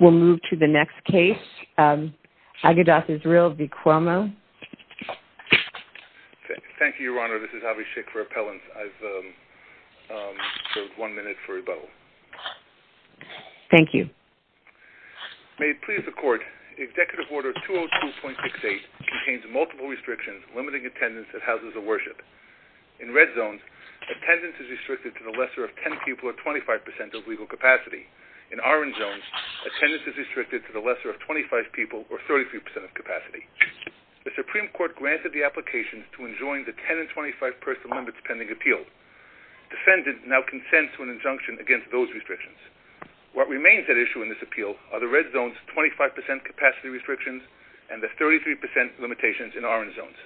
We'll move to the next case, Agedath Israel v. Cuomo. Thank you, Your Honor. This is Avi Schick for Appellants. I've served one minute for rebuttal. Thank you. May it please the Court, Executive Order 202.68 contains multiple restrictions limiting attendance at houses of worship. In red zones, attendance is restricted to the lesser of 10 people or 25% of legal capacity. In orange zones, attendance is restricted to the lesser of 25 people or 33% of capacity. The Supreme Court granted the application to enjoin the 10 and 25-person limits pending appeal. Defendants now consent to an injunction against those restrictions. What remains at issue in this appeal are the red zones' 25% capacity restrictions and the 33% limitations in orange zones.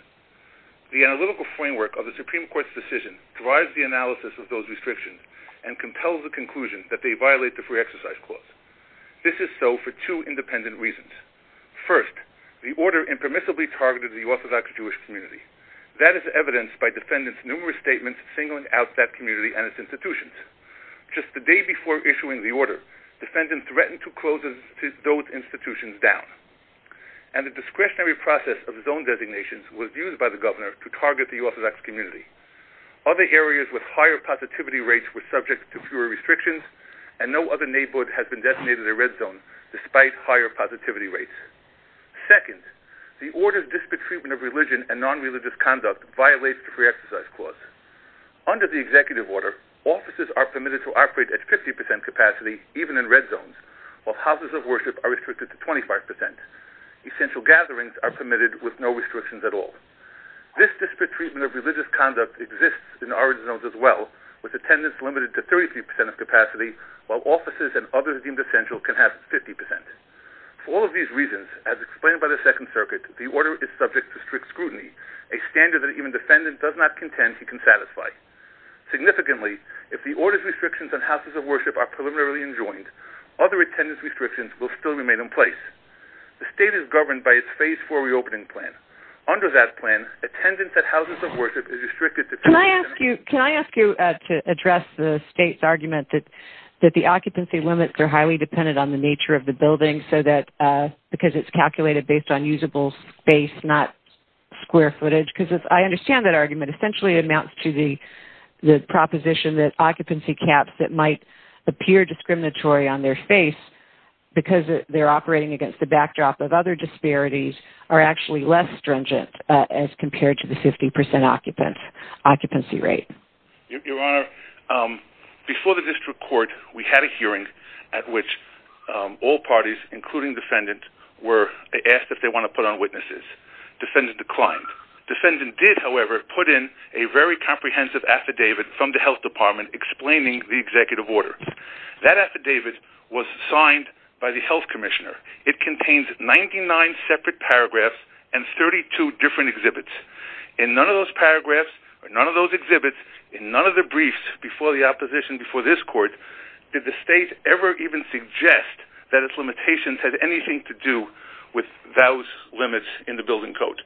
The analytical framework of the Supreme Court's decision drives the analysis of those restrictions and compels the conclusion that they violate the Free Exercise Clause. This is so for two independent reasons. First, the order impermissibly targeted the Orthodox Jewish community. That is evidenced by defendants' numerous statements singling out that community and its institutions. Just the day before issuing the order, defendants threatened to close those institutions down. And the discretionary process of zone designations was used by the governor to target the Orthodox community. Other areas with higher positivity rates were subject to fewer restrictions and no other neighborhood has been designated a red zone despite higher positivity rates. Second, the order's disparate treatment of religion and non-religious conduct violates the Free Exercise Clause. Under the Executive Order, offices are permitted to operate at 50% capacity even in red zones, while houses of worship are restricted to 25%. Essential gatherings are permitted with no restrictions at all. This disparate treatment of religious conduct exists in orange zones as well, with attendance limited to 33% of capacity while offices and others deemed essential can have 50%. For all of these reasons, as explained by the Second Circuit, the order is subject to strict scrutiny, a standard that even a defendant does not contend he can satisfy. Significantly, if the order's restrictions on houses of worship are preliminarily enjoined, other attendance restrictions will still remain in place. The state is governed by its Phase 4 reopening plan. Under that plan, attendance at houses of worship is restricted to 25%. Can I ask you to address the state's argument that the occupancy limits are highly dependent on the nature of the building because it's calculated based on usable space, not square footage? Because I understand that argument. It essentially amounts to the proposition that occupancy caps that might appear discriminatory on their face because they're operating against the backdrop of other disparities are actually less stringent as compared to the 50% occupancy rate. Your Honor, before the district court, we had a hearing at which all parties, including defendant, were asked if they want to put on witnesses. Defendant declined. Defendant did, however, put in a very comprehensive affidavit from the health department explaining the executive order. That affidavit was signed by the health commissioner. It contains 99 separate paragraphs and 32 different exhibits. In none of those paragraphs or none of those exhibits, in none of the briefs before the opposition, before this court, did the state ever even suggest that its limitations had anything to do with those limits in the building code.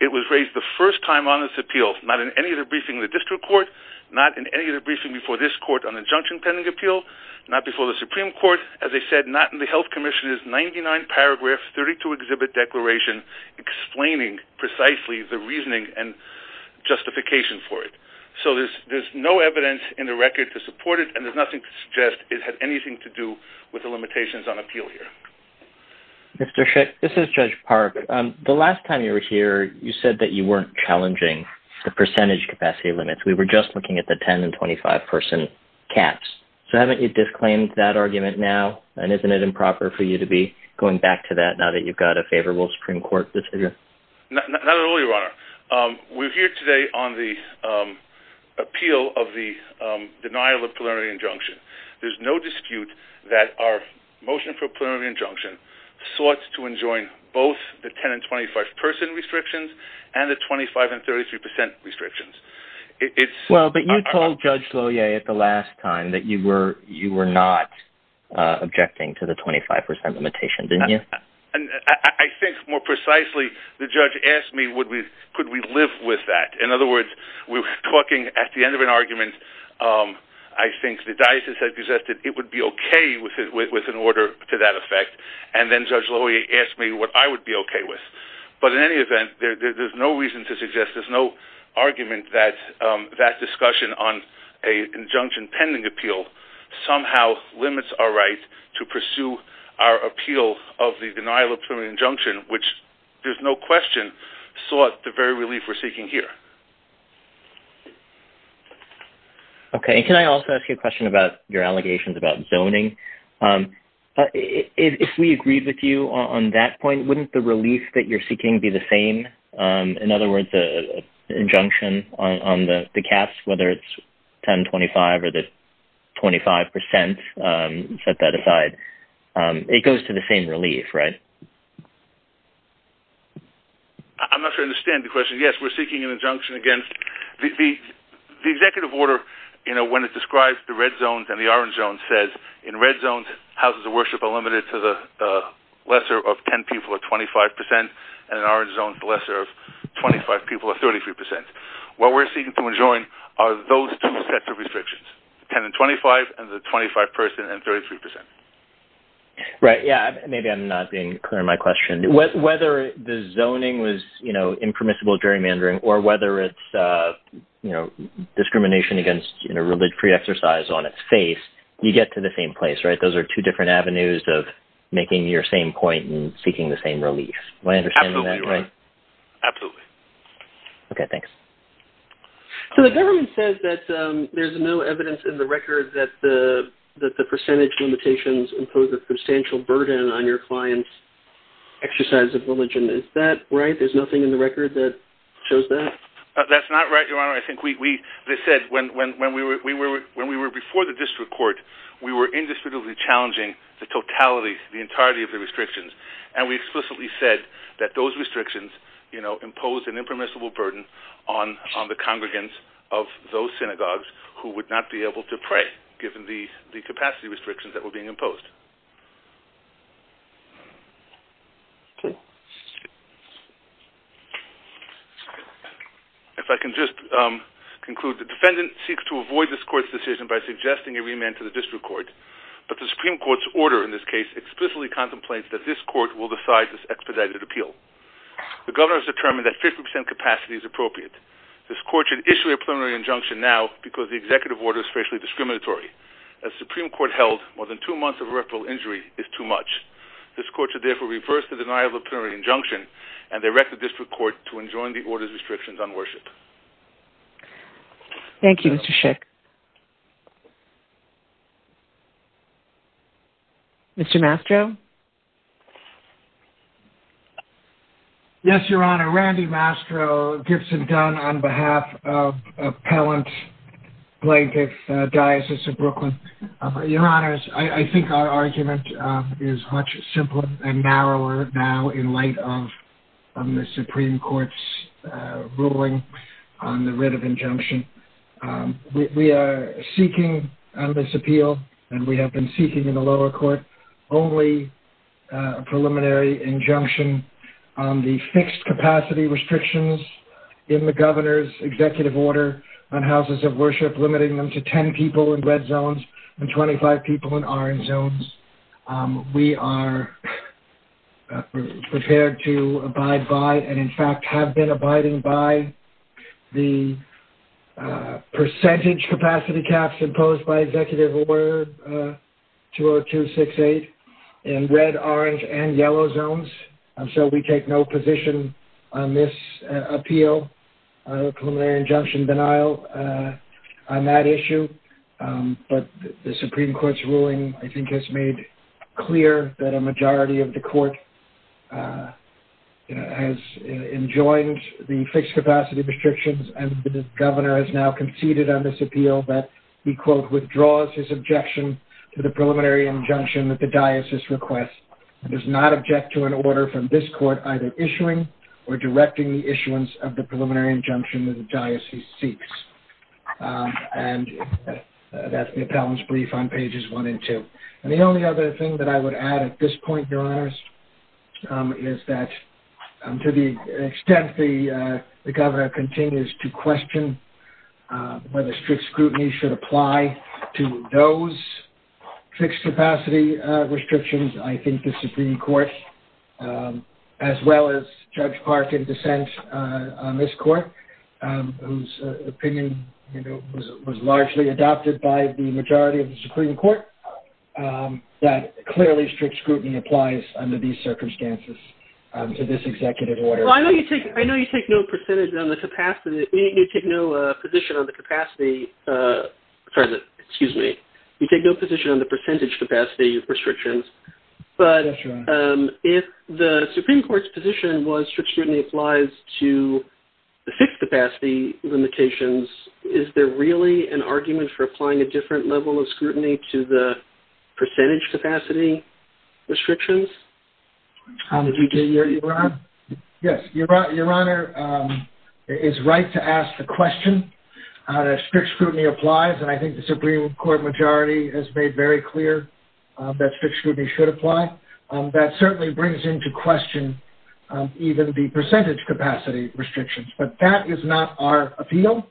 It was raised the first time on this appeal, not in any of the briefings of the district court, not in any of the briefings before this court on the injunction pending appeal, not before the Supreme Court. As I said, not in the health commissioner's 99-paragraph, 32-exhibit declaration explaining precisely the reasoning and justification for it. So there's no evidence in the record to support it, and there's nothing to suggest it had anything to do with the limitations on appeal here. Mr. Schick, this is Judge Park. The last time you were here, you said that you weren't challenging the percentage capacity limits. We were just looking at the 10- and 25-person caps. So haven't you disclaimed that argument now, and isn't it improper for you to be going back to that now that you've got a favorable Supreme Court decision? Not at all, Your Honor. We're here today on the appeal of the denial of plenary injunction. There's no dispute that our motion for plenary injunction sought to enjoin both the 10- and 25-person restrictions and the 25- and 33-percent restrictions. Well, but you told Judge Lohier at the last time that you were not objecting to the 25-percent limitation, didn't you? I think, more precisely, the judge asked me, could we live with that? In other words, we were talking at the end of an argument. I think the diocese had suggested it would be okay with an order to that effect, and then Judge Lohier asked me what I would be okay with. But in any event, there's no reason to suggest, there's no argument, that that discussion on an injunction pending appeal somehow limits our right to pursue our appeal of the denial of plenary injunction, which there's no question sought the very relief we're seeking here. Okay, and can I also ask you a question about your allegations about zoning? If we agreed with you on that point, wouldn't the relief that you're seeking be the same? In other words, the injunction on the caps, whether it's 10-25 or the 25-percent, set that aside, it goes to the same relief, right? I'm not sure I understand the question. Yes, we're seeking an injunction against... The executive order, when it describes the red zones and the orange zones, says in red zones, houses of worship are limited to the lesser of 10 people or 25 percent, and in orange zones, the lesser of 25 people or 33 percent. What we're seeking to enjoin are those two sets of restrictions, the 10-25 and the 25-person and 33 percent. Right, yeah, maybe I'm not being clear in my question. Whether the zoning was impermissible gerrymandering or whether it's discrimination against a religious exercise on its face, you get to the same place, right? Those are two different avenues of making your same point and seeking the same relief. Am I understanding that right? Absolutely. Absolutely. Okay, thanks. So the government says that there's no evidence in the record that the percentage limitations impose a substantial burden on your client's exercise of religion. Is that right? There's nothing in the record that shows that? That's not right, Your Honor. I think they said when we were before the district court, we were indiscriminately challenging the totality, the entirety of the restrictions, and we explicitly said that those restrictions impose an impermissible burden on the congregants of those synagogues who would not be able to pray given the capacity restrictions that were being imposed. Okay. If I can just conclude, the defendant seeks to avoid this court's decision by suggesting a remand to the district court, but the Supreme Court's order in this case explicitly contemplates that this court will decide this expedited appeal. The governor has determined that 50% capacity is appropriate. This court should issue a preliminary injunction now because the executive order is facially discriminatory. As the Supreme Court held, more than two months of irreparable injury is too much. This court should therefore reverse the denial of the preliminary injunction and direct the district court to enjoin the order's restrictions on worship. Thank you, Mr. Schick. Mr. Mastro? Yes, Your Honor. Randy Mastro, Gibson Dunn on behalf of Appellant Plaintiff Diocese of Brooklyn. Your Honors, I think our argument is much simpler and narrower now in light of the Supreme Court's ruling on the writ of injunction. We are seeking on this appeal, and we have been seeking in the lower court, only a preliminary injunction on the fixed capacity restrictions in the governor's executive order on houses of worship, limiting them to 10 people in red zones and 25 people in orange zones. We are prepared to abide by, and in fact have been abiding by, the percentage capacity caps imposed by Executive Order 20268 in red, orange, and yellow zones. So we take no position on this appeal, a preliminary injunction denial on that issue. But the Supreme Court's ruling, I think, has made clear that a majority of the court has enjoined the fixed capacity restrictions and the governor has now conceded on this appeal that he, quote, withdraws his objection to the preliminary injunction that the diocese requests and does not object to an order from this court either issuing or directing the issuance of the preliminary injunction that the diocese seeks. And that's the appellant's brief on pages one and two. And the only other thing that I would add at this point, Your Honors, is that to the extent the governor continues to question whether strict scrutiny should apply to those fixed capacity restrictions, I think the Supreme Court, as well as Judge Park in dissent on this court, whose opinion was largely adopted by the majority of the Supreme Court, that clearly strict scrutiny applies under these circumstances to this executive order. Well, I know you take no percentage on the capacity, you take no position on the capacity, sorry, excuse me, you take no position on the percentage capacity restrictions, but if the Supreme Court's position was strict scrutiny applies to the fixed capacity limitations, is there really an argument for applying a different level of scrutiny to the percentage capacity restrictions? Did you hear that, Your Honor? Yes. Your Honor is right to ask the question. Strict scrutiny applies, and I think the Supreme Court majority has made very clear that strict scrutiny should apply. That certainly brings into question even the percentage capacity restrictions, but that is not our appeal.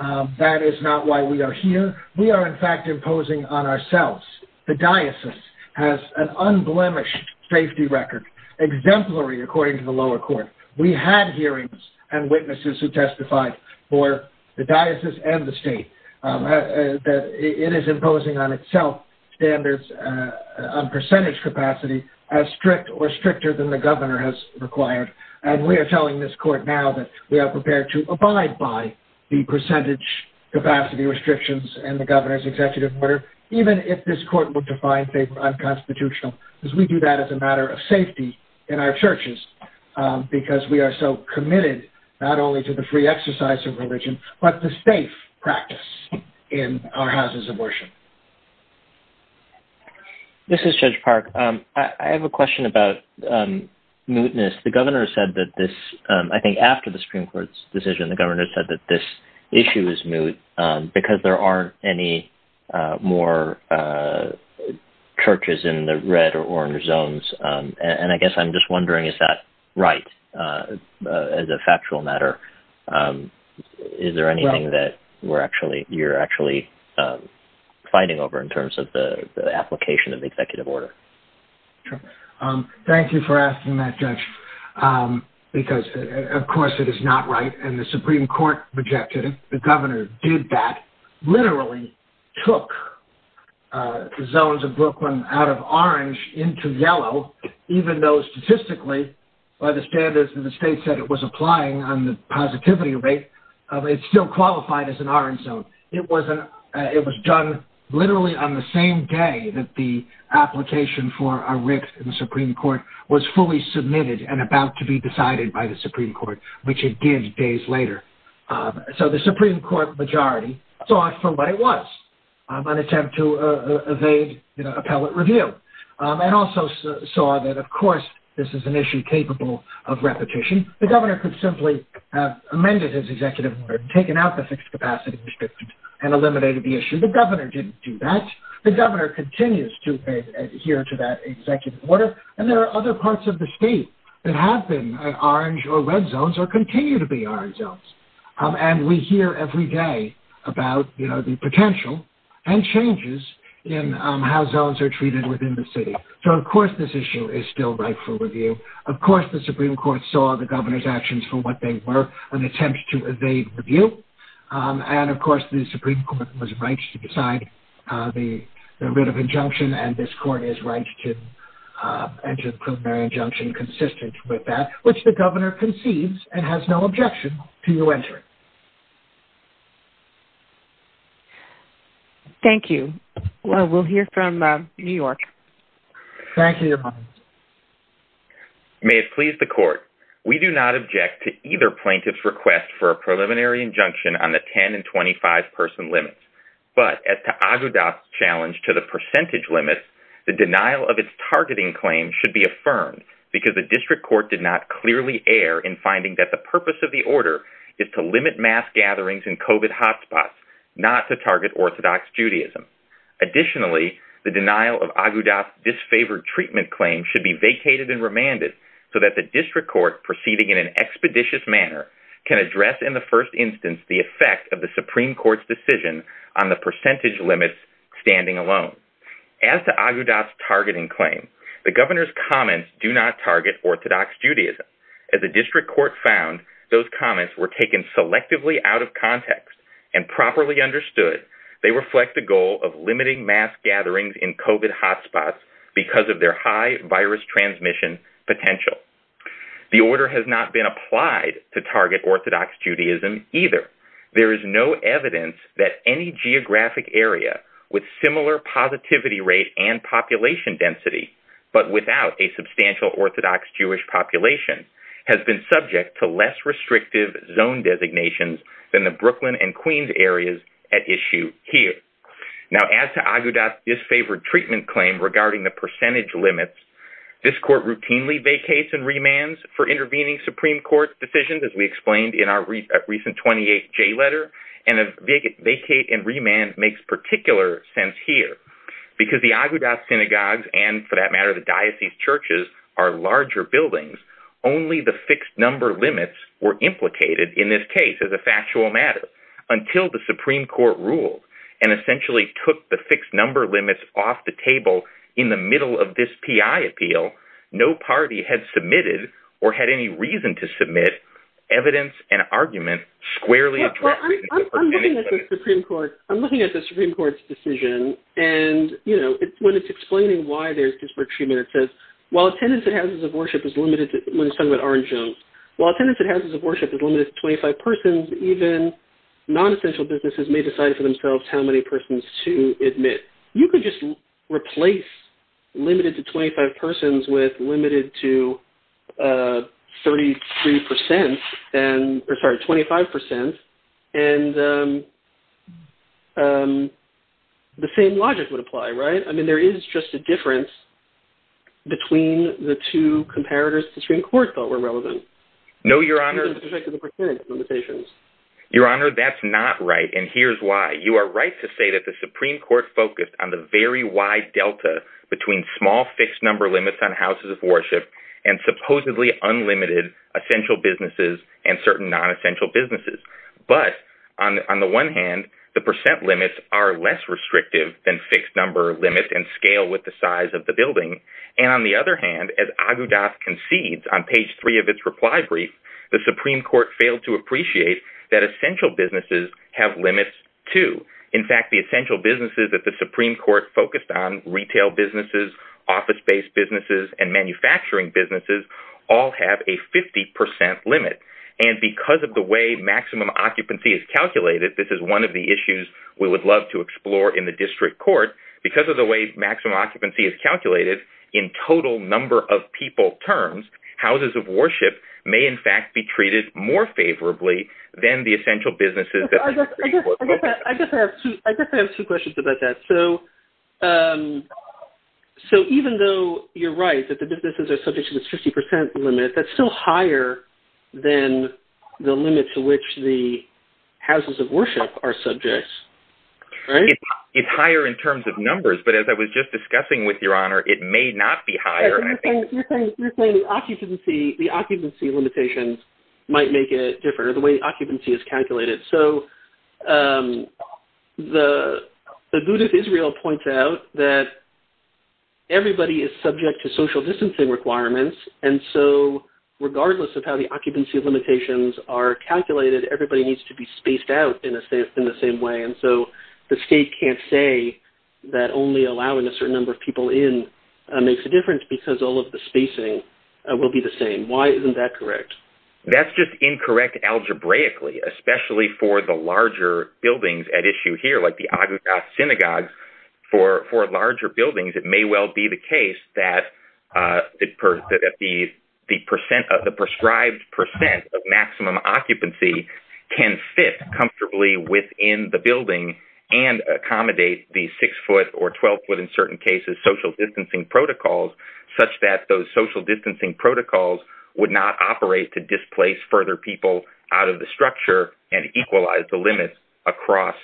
That is not why we are here. We are in fact imposing on ourselves, the diocese has an unblemished safety record, exemplary according to the lower court. We had hearings and witnesses who testified for the diocese and the state, that it is imposing on itself standards on percentage capacity as strict or stricter than the governor has required, and we are telling this court now that we are prepared to abide by the percentage capacity restrictions and the governor's executive order, even if this court would define favor unconstitutional, because we do that as a matter of safety in our churches, because we are so committed not only to the free exercise of religion, but the safe practice in our houses of worship. This is Judge Park. I have a question about mootness. The governor said that this, I think after the Supreme Court's decision, the governor said that this issue is moot because there aren't any more churches in the red or orange zones, and I guess I'm just wondering, is that right as a factual matter? Is there anything that you're actually fighting over in terms of the application of the executive order? Thank you for asking that, Judge, because of course it is not right and the Supreme Court rejected it. The governor did that, literally took the zones of Brooklyn out of orange into yellow, even though statistically by the standards that the state said it was applying on the positivity rate, it still qualified as an orange zone. It was done literally on the same day that the application for a rift in the Supreme Court was fully submitted and about to be decided by the Supreme Court, which it did days later. So the Supreme Court majority thought for what it was, an attempt to evade appellate review and also saw that, of course, this is an issue capable of repetition. The governor could simply have amended his executive order, taken out the fixed capacity restrictions and eliminated the issue. The governor didn't do that. The governor continues to adhere to that executive order, and there are other parts of the state that have been orange or red zones or continue to be orange zones. And we hear every day about, you know, the potential and changes in how zones are treated within the city. So of course this issue is still rightful review. Of course the Supreme Court saw the governor's actions for what they were, an attempt to evade review. And of course the Supreme Court was right to decide the writ of injunction and this court is right to enter a preliminary injunction consistent with that, which the governor conceives and has no objection to you entering. Thank you. We'll hear from New York. Thank you, Your Honor. May it please the court, we do not object to either plaintiff's request for a preliminary injunction on the 10- and 25-person limits, but as to Agudat's challenge to the percentage limits, the denial of its targeting claim should be affirmed because the district court did not clearly err in finding that the purpose of the order is to limit mass gatherings in COVID hotspots, not to target Orthodox Judaism. Additionally, the denial of Agudat's disfavored treatment claim should be vacated and remanded so that the district court, proceeding in an expeditious manner, can address in the first instance the effect of the Supreme Court's decision on the percentage limits standing alone. As to Agudat's targeting claim, the governor's comments do not target Orthodox Judaism. As the district court found, those comments were taken selectively out of context and properly understood, they reflect the goal of limiting mass gatherings in COVID hotspots because of their high virus transmission potential. The order has not been applied to target Orthodox Judaism either. There is no evidence that any geographic area with similar positivity rate and population density, but without a substantial Orthodox Jewish population, has been subject to less restrictive zone designations than the Brooklyn and Queens areas at issue here. Now, as to Agudat's disfavored treatment claim regarding the percentage limits, this court routinely vacates and remands for intervening Supreme Court decisions, as we explained in our recent 28th J letter, and a vacate and remand makes particular sense here because the Agudat synagogues and, for that matter, the diocese churches are larger buildings. Only the fixed number limits were implicated in this case as a factual matter until the Supreme Court ruled and essentially took the fixed number limits off the table in the middle of this P.I. appeal. No party had submitted or had any reason to submit evidence and argument squarely addressing the percentage limits. Well, I'm looking at the Supreme Court's decision and, you know, when it's explaining why there's disfavored treatment, it says, while attendance at houses of worship is limited, when it's talking about Orange Jones, while attendance at houses of worship is limited to 25 persons, even non-essential businesses may decide for themselves how many persons to admit. You could just replace limited to 25 persons with limited to 33 percent, or sorry, 25 percent, and the same logic would apply, right? I mean, there is just a difference between the two comparators the Supreme Court thought were relevant. No, Your Honor. In respect to the percentage limitations. Your Honor, that's not right, and here's why. You are right to say that the Supreme Court focused on the very wide delta between small fixed number limits on houses of worship and supposedly unlimited essential businesses and certain non-essential businesses. But on the one hand, the percent limits are less restrictive than fixed number limits and scale with the size of the building. And on the other hand, as Agudas concedes on page three of its reply brief, the Supreme Court failed to appreciate that essential businesses have limits, too. In fact, the essential businesses that the Supreme Court focused on, retail businesses, office-based businesses, and manufacturing businesses, all have a 50 percent limit. And because of the way maximum occupancy is calculated, this is one of the issues we would love to explore in the district court, because of the way maximum occupancy is calculated in total number of people terms, houses of worship may in fact be treated more favorably than the essential businesses that the Supreme Court focused on. I guess I have two questions about that. So even though you're right that the businesses are subject to this 50 percent limit, that's still higher than the limits to which the houses of worship are subject, right? It's higher in terms of numbers, but as I was just discussing with Your Honor, it may not be higher. You're saying the occupancy limitations might make it different, or the way occupancy is calculated. So Agudas Israel points out that everybody is subject to social distancing requirements, and so regardless of how the occupancy limitations are calculated, everybody needs to be spaced out in the same way. And so the state can't say that only allowing a certain number of people in makes a difference, because all of the spacing will be the same. Why isn't that correct? That's just incorrect algebraically, especially for the larger buildings at issue here, like the Agudas Synagogue. For larger buildings, it may well be the case that the prescribed percent of maximum occupancy can fit comfortably within the building and accommodate the six-foot or 12-foot, in certain cases, social distancing protocols, such that those social distancing protocols would not operate to displace further people out of the structure and equalize the limits across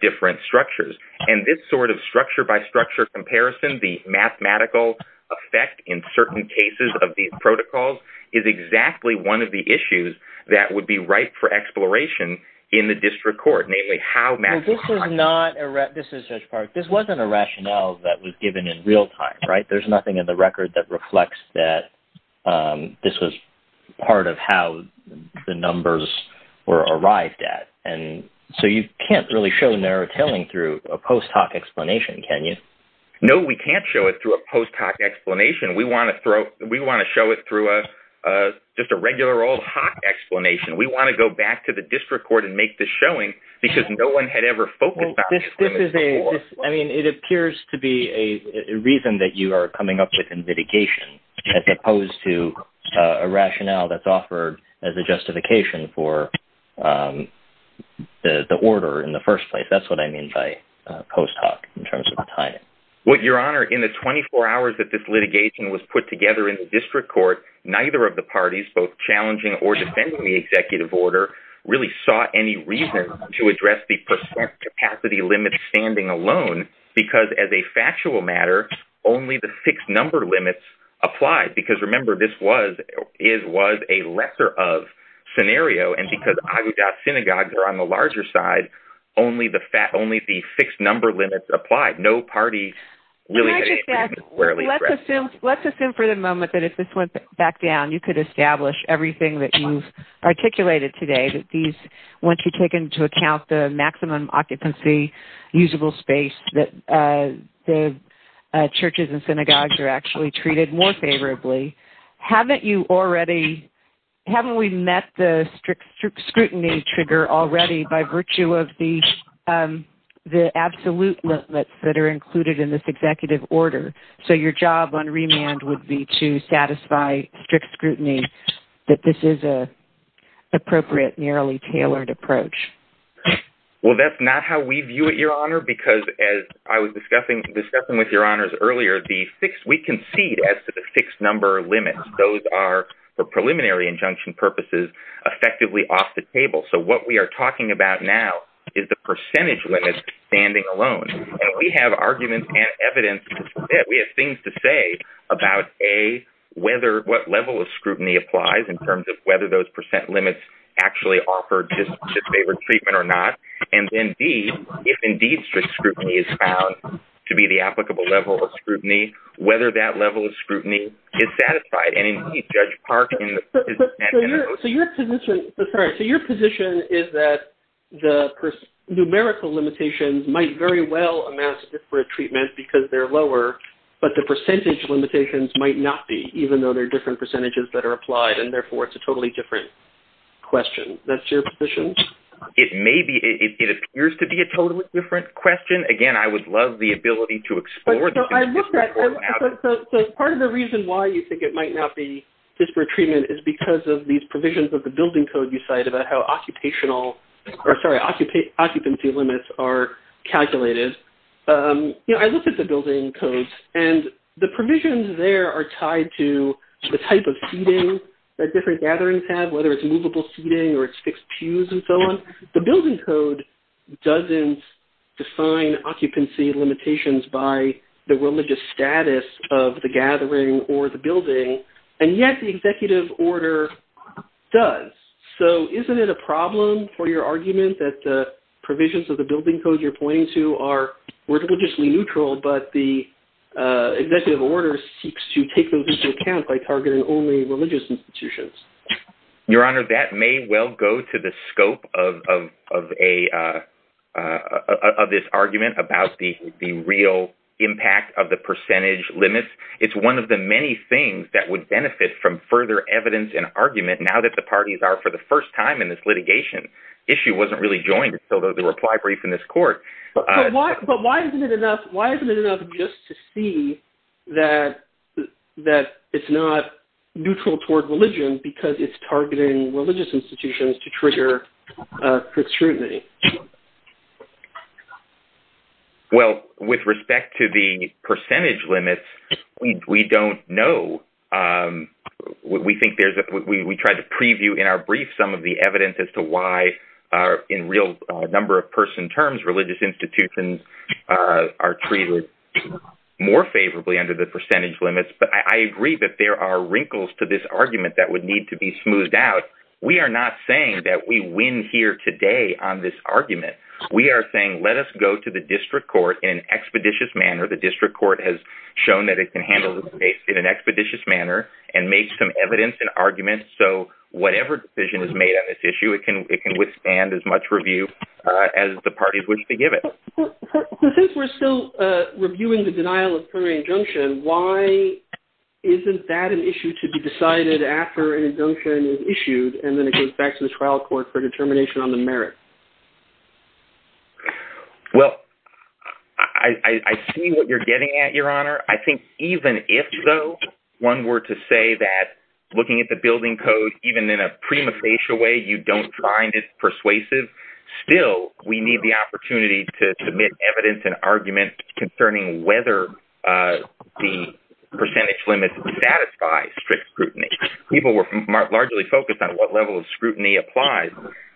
different structures. And this sort of structure-by-structure comparison, the mathematical effect in certain cases of these protocols, is exactly one of the issues that would be ripe for exploration in the district court, namely how mathematical... This was not a rationale that was given in real time, right? There's nothing in the record that reflects that this was part of how the numbers were arrived at. And so you can't really show narrow-tailing through a post hoc explanation, can you? No, we can't show it through a post hoc explanation. We want to show it through just a regular old hoc explanation. We want to go back to the district court and make this showing, because no one had ever focused on these limits before. I mean, it appears to be a reason that you are coming up with in litigation, as opposed to a rationale that's offered as a justification for the order in the first place. That's what I mean by post hoc, in terms of the timing. Well, Your Honor, in the 24 hours that this litigation was put together in the district court, neither of the parties, both challenging or defending the executive order, really sought any reason to address the percent capacity limit standing alone, because as a factual matter, only the fixed number limits applied. Because, remember, this was a lesser of scenario, and because Agudat synagogues are on the larger side, only the fixed number limits applied. Can I just ask, let's assume for the moment that if this went back down, you could establish everything that you've articulated today, that once you take into account the maximum occupancy usable space, that the churches and synagogues are actually treated more favorably. Haven't we met the strict scrutiny trigger already, by virtue of the absolute limits that are included in this executive order? So your job on remand would be to satisfy strict scrutiny that this is an appropriate, nearly tailored approach. Well, that's not how we view it, Your Honor, because as I was discussing with Your Honors earlier, we concede as to the fixed number limits. Those are, for preliminary injunction purposes, effectively off the table. So what we are talking about now is the percentage limit standing alone. And we have arguments and evidence to submit. We have things to say about, A, what level of scrutiny applies, in terms of whether those percent limits actually offer disfavored treatment or not, and then, B, if indeed strict scrutiny is found to be the applicable level of scrutiny, whether that level of scrutiny is satisfied. And indeed, Judge Park in his... So your position is that the numerical limitations might very well amount to disfavored treatment because they're lower, but the percentage limitations might not be, even though there are different percentages that are applied, and therefore it's a totally different question. That's your position? It may be. It appears to be a totally different question. Again, I would love the ability to explore this. So part of the reason why you think it might not be disfavored treatment is because of these provisions of the building code you cite about how occupancy limits are calculated. I looked at the building codes, and the provisions there are tied to the type of seating that different gatherings have, whether it's movable seating or it's fixed pews and so on. The building code doesn't define occupancy limitations by the religious status of the gathering or the building, and yet the executive order does. So isn't it a problem for your argument that the provisions of the building code you're pointing to are religiously neutral, but the executive order seeks to take those into account by targeting only religious institutions? Your Honor, that may well go to the scope of this argument about the real impact of the percentage limits. It's one of the many things that would benefit from further evidence and argument now that the parties are for the first time in this litigation. The issue wasn't really joined until the reply brief in this court. But why isn't it enough just to see that it's not neutral toward religion because it's targeting religious institutions to trigger scrutiny? Well, with respect to the percentage limits, we don't know. We tried to preview in our brief some of the evidence as to why in real number-of-person terms religious institutions are treated more favorably under the percentage limits. But I agree that there are wrinkles to this argument that would need to be smoothed out. We are not saying that we win here today on this argument. We are saying, let us go to the district court in an expeditious manner. The district court has shown that it can handle this case in an expeditious manner and make some evidence and argument. So whatever decision is made on this issue, it can withstand as much review as the parties wish to give it. Since we're still reviewing the denial of preliminary injunction, why isn't that an issue to be decided after an injunction is issued and then it goes back to the trial court for determination on the merit? Well, I see what you're getting at, Your Honor. I think even if, though, one were to say that looking at the building code, even in a prima facie way, you don't find it persuasive. Still, we need the opportunity to submit evidence and argument concerning whether the percentage limits satisfy strict scrutiny. People were largely focused on what level of scrutiny applies.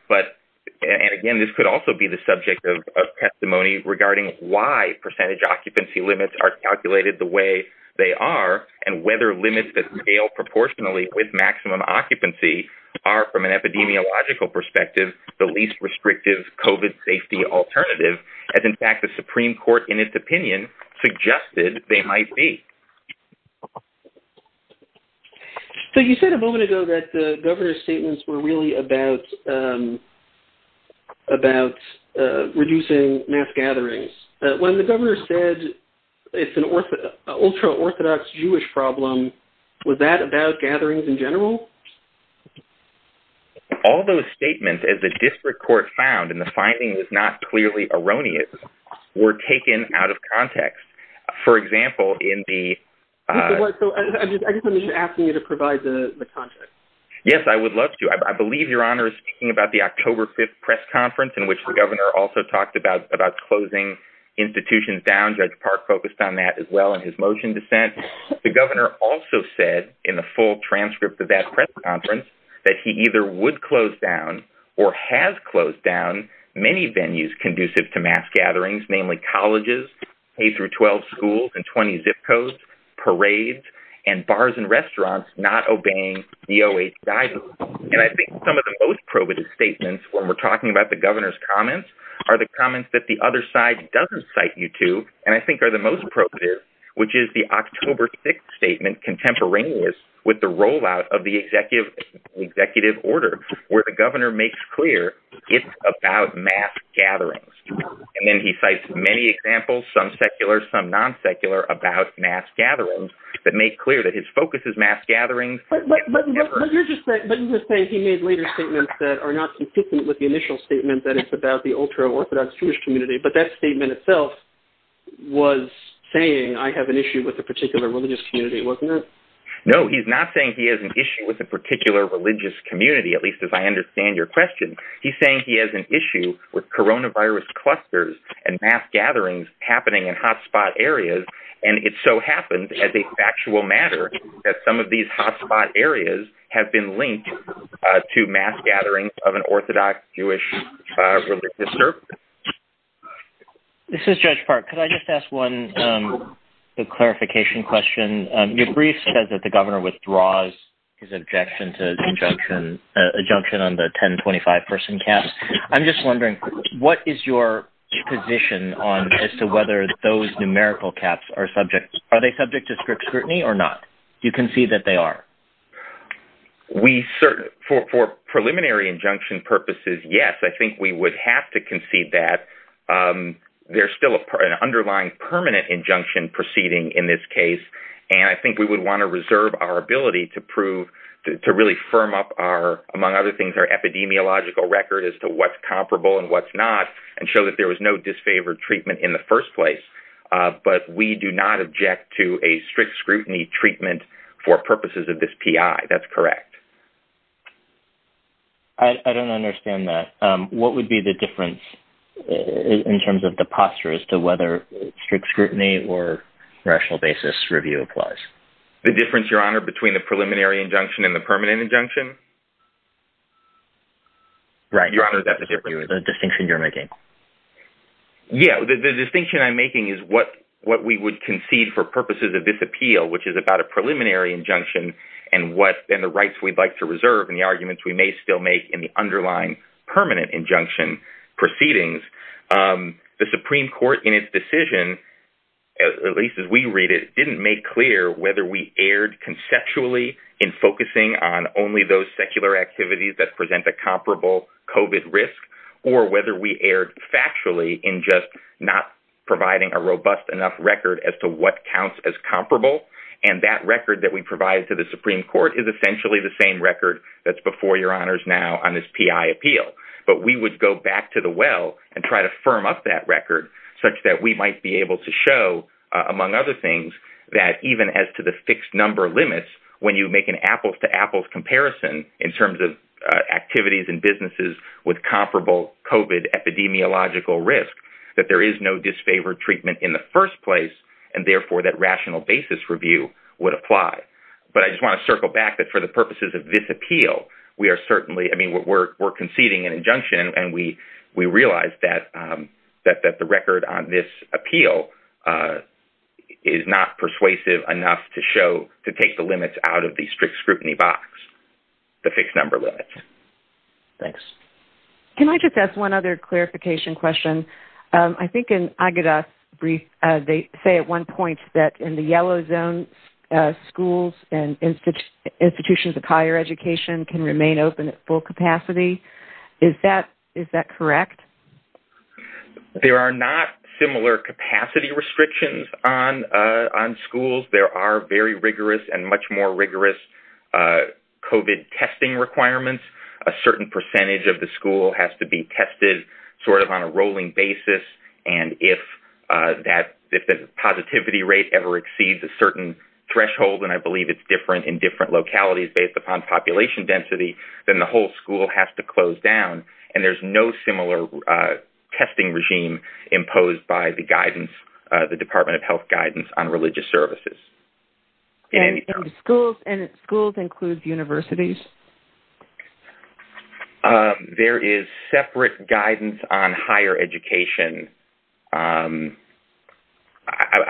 But, and again, this could also be the subject of testimony regarding why percentage occupancy limits are calculated the way they are and whether limits that scale proportionally with maximum occupancy are, from an epidemiological perspective, the least restrictive COVID safety alternative, as in fact the Supreme Court, in its opinion, suggested they might be. So you said a moment ago that the governor's statements were really about reducing mass gatherings. When the governor said it's an ultra-Orthodox Jewish problem, was that about gatherings in general? All those statements, as the district court found, and the finding was not clearly erroneous, were taken out of context. For example, in the... I guess I'm just asking you to provide the context. Yes, I would love to. I believe Your Honor is speaking about the October 5th press conference in which the governor also talked about closing institutions down. Judge Park focused on that as well in his motion dissent. The governor also said in the full transcript of that press conference that he either would close down or has closed down many venues conducive to mass gatherings, namely colleges, K-12 schools, and 20 zip codes, parades, and bars and restaurants not obeying DOH guidance. And I think some of the most probative statements when we're talking about the governor's comments are the comments that the other side doesn't cite you to and I think are the most probative, which is the October 6th statement contemporaneous with the rollout of the executive order where the governor makes clear it's about mass gatherings. And then he cites many examples, some secular, some non-secular, about mass gatherings that make clear that his focus is mass gatherings. But you're just saying he made later statements that are not consistent with the initial statement that it's about the ultra-Orthodox Jewish community, but that statement itself was saying, I have an issue with a particular religious community, wasn't it? No, he's not saying he has an issue with a particular religious community, at least as I understand your question. He's saying he has an issue with coronavirus clusters and mass gatherings happening in hotspot areas, and it so happens as a factual matter that some of these hotspot areas have been linked to mass gatherings of an Orthodox Jewish religious group. This is Judge Park. Could I just ask one clarification question? Your brief says that the governor withdraws his objection to the injunction on the 10-25 person cap. I'm just wondering, what is your position as to whether those numerical caps are subject? Are they subject to strict scrutiny or not? Do you concede that they are? For preliminary injunction purposes, yes. I think we would have to concede that. There's still an underlying permanent injunction proceeding in this case, and I think we would want to reserve our ability to really firm up, among other things, our epidemiological record as to what's comparable and what's not and show that there was no disfavored treatment in the first place. But we do not object to a strict scrutiny treatment for purposes of this PI. That's correct. I don't understand that. What would be the difference in terms of the posture as to whether strict scrutiny or rational basis review applies? The difference, Your Honor, between the preliminary injunction and the permanent injunction? Right. The distinction you're making. Yeah, the distinction I'm making is what we would concede for purposes of this appeal, which is about a preliminary injunction and the rights we'd like to reserve and the arguments we may still make in the underlying permanent injunction proceedings. The Supreme Court, in its decision, at least as we read it, didn't make clear whether we erred conceptually in focusing on only those secular activities that present a comparable COVID risk or whether we erred factually in just not providing a robust enough record as to what counts as comparable. And that record that we provide to the Supreme Court is essentially the same record that's before Your Honors now on this PI appeal. But we would go back to the well and try to firm up that record such that we might be able to show, among other things, that even as to the fixed number limits, when you make an apples-to-apples comparison in terms of activities and businesses with comparable COVID epidemiological risk, that there is no disfavored treatment in the first place and therefore that rational basis review would apply. But I just want to circle back that for the purposes of this appeal, we are conceding an injunction and we realize that the record on this appeal is not persuasive enough to take the limits out of the strict scrutiny box, the fixed number limits. Thanks. Can I just ask one other clarification question? I think in Agada's brief, they say at one point that in the yellow zone, schools and institutions of higher education can remain open at full capacity. Is that correct? There are not similar capacity restrictions on schools. There are very rigorous and much more rigorous COVID testing requirements. A certain percentage of the school has to be tested sort of on a rolling basis. And if the positivity rate ever exceeds a certain threshold, and I believe it's different in different localities based upon population density, then the whole school has to close down. And there's no similar testing regime imposed by the guidance, public guidance on religious services. And schools include universities? There is separate guidance on higher education. I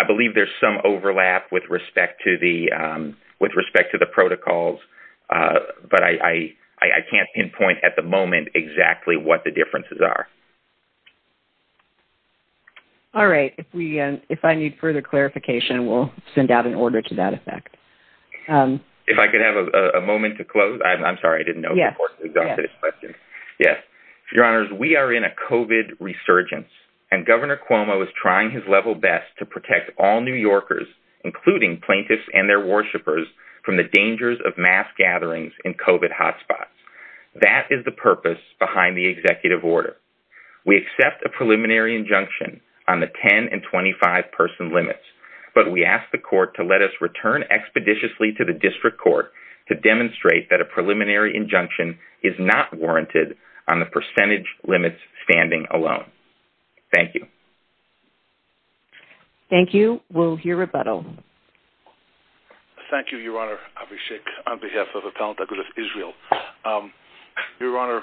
believe there's some overlap with respect to the protocols, but I can't pinpoint at the moment exactly what the differences are. All right. If I need further clarification, we'll send out an order to that effect. If I could have a moment to close. I'm sorry, I didn't know the question. Yes. Your Honors, we are in a COVID resurgence, and Governor Cuomo is trying his level best to protect all New Yorkers, including plaintiffs and their worshipers, from the dangers of mass gatherings in COVID hotspots. That is the purpose behind the executive order. We accept a preliminary injunction on the 10- and 25-person limits, but we ask the court to let us return expeditiously to the district court to demonstrate that a preliminary injunction is not warranted on the percentage limits standing alone. Thank you. Thank you. We'll hear rebuttal. Thank you, Your Honor. Abishek, on behalf of the Palm Temple of Israel. Your Honor,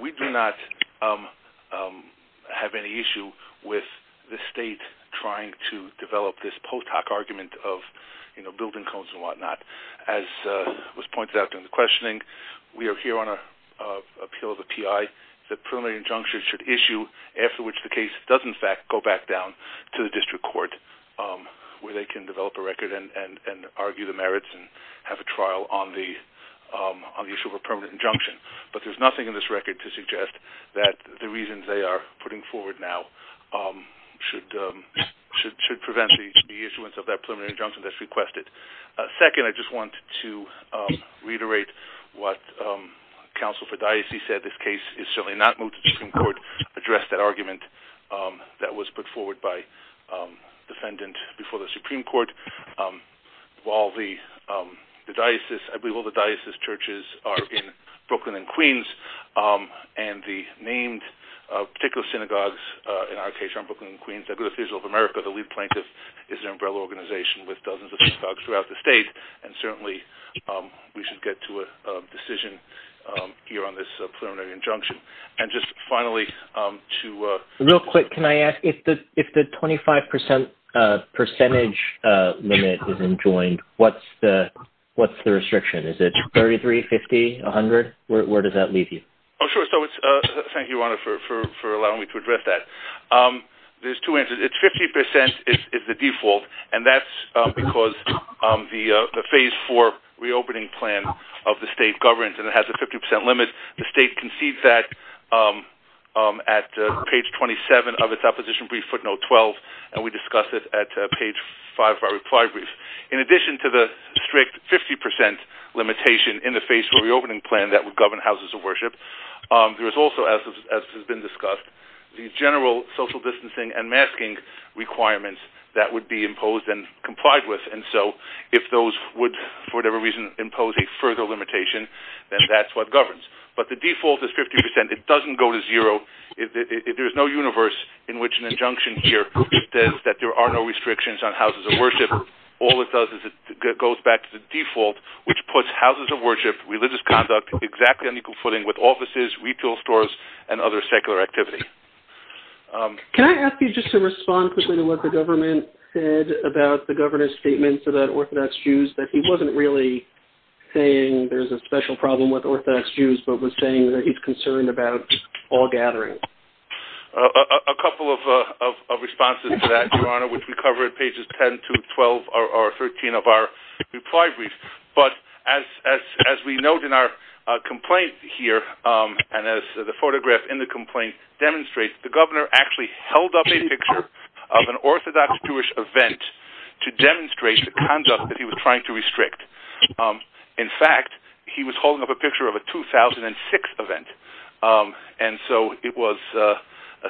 we do not have any issue with the state trying to develop this POTOC argument of building codes and whatnot. As was pointed out in the questioning, we are here on an appeal of a P.I. The preliminary injunction should issue, after which the case does, in fact, go back down to the district court where they can develop a record and argue the merits and have a trial on the issue of a permanent injunction. But there's nothing in this record to suggest that the reasons they are putting forward now should prevent the issuance of that preliminary injunction that's requested. Second, I just want to reiterate what Counsel for Diocese said. This case is certainly not moved to the Supreme Court. Address that argument that was put forward by the defendant before the Supreme Court. While the diocese churches are in Brooklyn and Queens and the named particular synagogues in our case are in Brooklyn and Queens, the Good Official of America, the lead plaintiff, is an umbrella organization with dozens of synagogues throughout the state. And certainly we should get to a decision here on this preliminary injunction. And just finally to... Real quick, can I ask, if the 25% percentage limit isn't joined, what's the restriction? Is it 33, 50, 100? Where does that leave you? Oh, sure. Thank you, Rana, for allowing me to address that. There's two answers. It's 50% is the default. And that's because the Phase 4 reopening plan of the state governs and it has a 50% limit. The state conceived that at page 27 of its opposition brief footnote 12, and we discussed it at page 5 of our reply brief. In addition to the strict 50% limitation in the Phase 4 reopening plan that would govern houses of worship, there is also, as has been discussed, the general social distancing and masking requirements that would be imposed and complied with. And so if those would, for whatever reason, impose a further limitation, then that's what governs. But the default is 50%. It doesn't go to zero. There's no universe in which an injunction here says that there are no restrictions on houses of worship. All it does is it goes back to the default, which puts houses of worship, religious conduct, exactly on equal footing with offices, retail stores, and other secular activity. Can I ask you just to respond quickly to what the government said about the governor's statements about Orthodox Jews, that he wasn't really saying there's a special problem with Orthodox Jews, but was saying that he's concerned about all gatherings. A couple of responses to that, Your Honor, which we cover at pages 10 to 12 or 13 of our reply brief. But as we note in our complaint here, and as the photograph in the complaint demonstrates, the governor actually held up a picture of an Orthodox Jewish event to demonstrate the conduct that he was trying to restrict. In fact, he was holding up a picture of a 2006 event. And so it was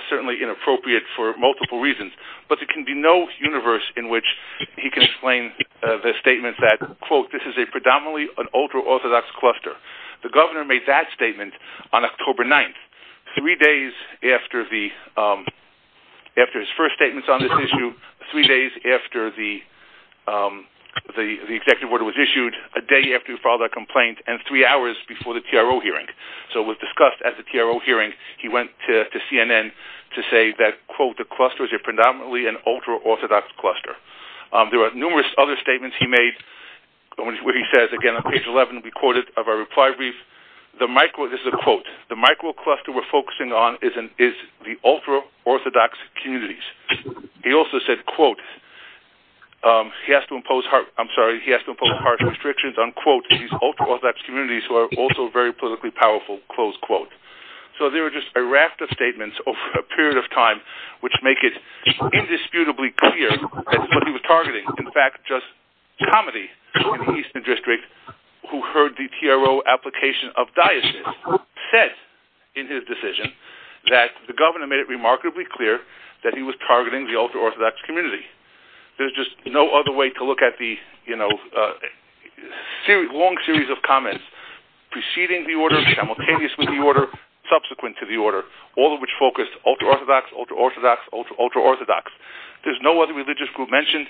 certainly inappropriate for multiple reasons. But there can be no universe in which he can explain the statement that, quote, this is a predominantly an ultra-Orthodox cluster. The governor made that statement on October 9th, three days after his first statements on this issue, three days after the executive order was issued, a day after he filed that complaint, and three hours before the TRO hearing. So it was discussed at the TRO hearing. He went to CNN to say that, quote, the cluster is a predominantly an ultra-Orthodox cluster. There are numerous other statements he made. What he says, again, on page 11 of our reply brief, this is a quote, the micro-cluster we're focusing on is the ultra-Orthodox communities. He also said, quote, he has to impose harsh restrictions on, quote, these ultra-Orthodox communities who are also very politically powerful, close quote. So there are just a raft of statements over a period of time which make it indisputably clear that this is what he was targeting. In fact, just comedy in the Eastern District, who heard the TRO application of diocese, said in his decision that the governor made it remarkably clear that he was targeting the ultra-Orthodox community. There's just no other way to look at the, you know, long series of comments preceding the order, simultaneously the order, subsequent to the order, all of which focused ultra-Orthodox, ultra-Orthodox, ultra-Orthodox. There's no other religious group mentioned.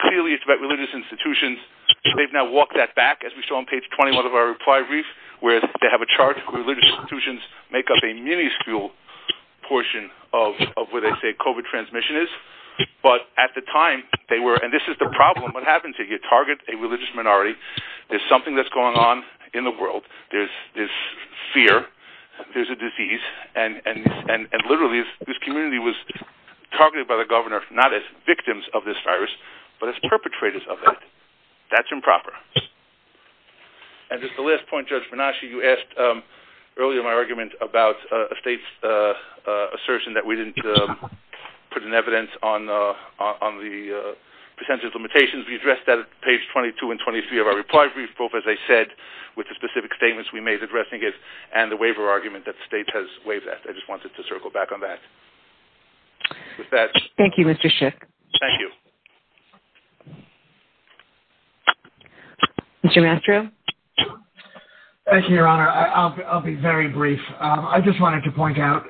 Clearly, it's about religious institutions. They've now walked that back, as we saw on page 21 of our reply brief, where they have a chart where religious institutions make up a miniscule portion of where they say COVID transmission is. But at the time, they were, and this is the problem. What happens if you target a religious minority? There's something that's going on in the world. There's this fear. There's a disease. And literally, this community was targeted by the governor, not as victims of this virus, but as perpetrators of it. That's improper. And just the last point, Judge Varnaschi, you asked earlier in my argument about a state's assertion that we didn't put in evidence on the percentage of limitations. We addressed that at page 22 and 23 of our reply brief, both, as I said, with the specific statements we made addressing it and the waiver argument that the state has waived that. I just wanted to circle back on that. With that... Thank you, Mr. Schiff. Thank you. Mr. Mastro? Thank you, Your Honor. I'll be very brief. I just wanted to point out,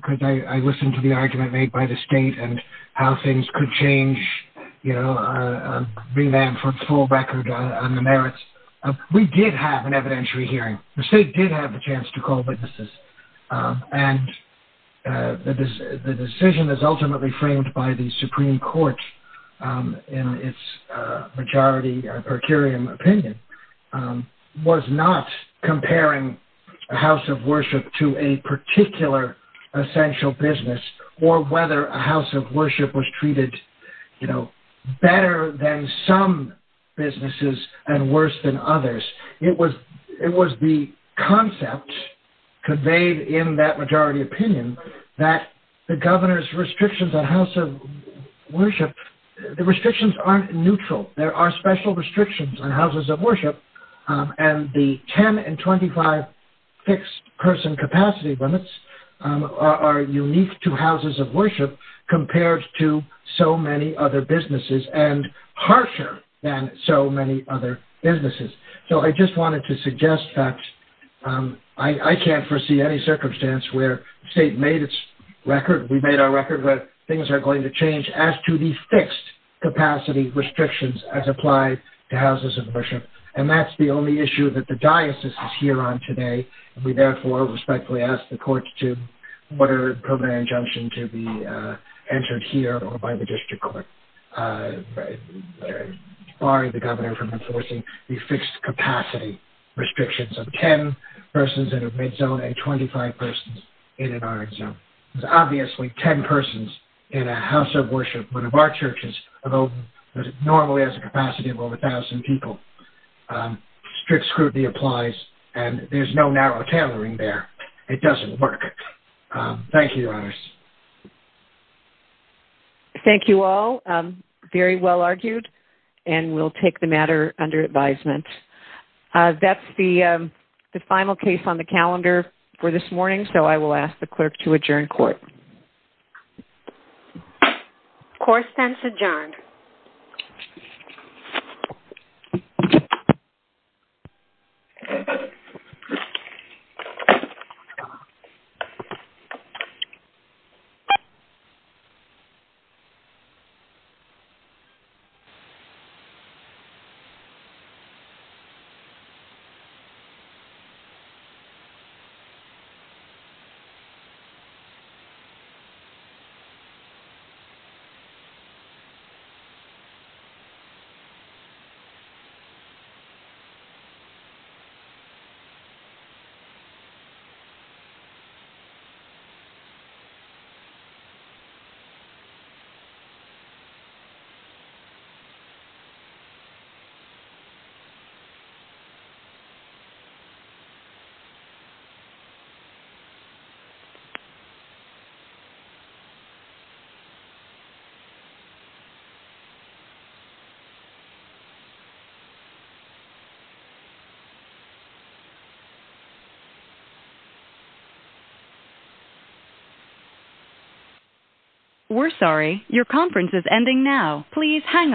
because I listened to the argument made by the state and how things could change, you know, a remand for full record on the merits. We did have an evidentiary hearing. The state did have a chance to call witnesses. And the decision is ultimately framed by the Supreme Court in its majority or per curiam opinion, was not comparing a house of worship to a particular essential business or whether a house of worship was treated, you know, better than some businesses and worse than others. It was the concept conveyed in that majority opinion that the governor's restrictions on house of worship, the restrictions aren't neutral. There are special restrictions on houses of worship. And the 10 and 25 fixed person capacity limits are unique to houses of worship compared to so many other businesses and harsher than so many other businesses. So I just wanted to suggest that I can't foresee any circumstance where the state made its record, we made our record, that things are going to change as to the fixed capacity restrictions as applied to houses of worship. And that's the only issue that the diocese is here on today. We therefore respectfully ask the courts to order a permanent injunction to be entered here or by the district court, barring the governor from enforcing the fixed capacity restrictions of 10 persons in a red zone and 25 persons in an orange zone. There's obviously 10 persons in a house of worship. One of our churches normally has a capacity of over 1,000 people. Strict scrutiny applies and there's no narrow tailoring there. It doesn't work. Thank you, Your Honors. Thank you all. Very well argued. And we'll take the matter under advisement. That's the final case on the calendar for this morning, so I will ask the clerk to adjourn court. Court stands adjourned. Thank you. We're sorry. Your conference is ending now. Please hang up.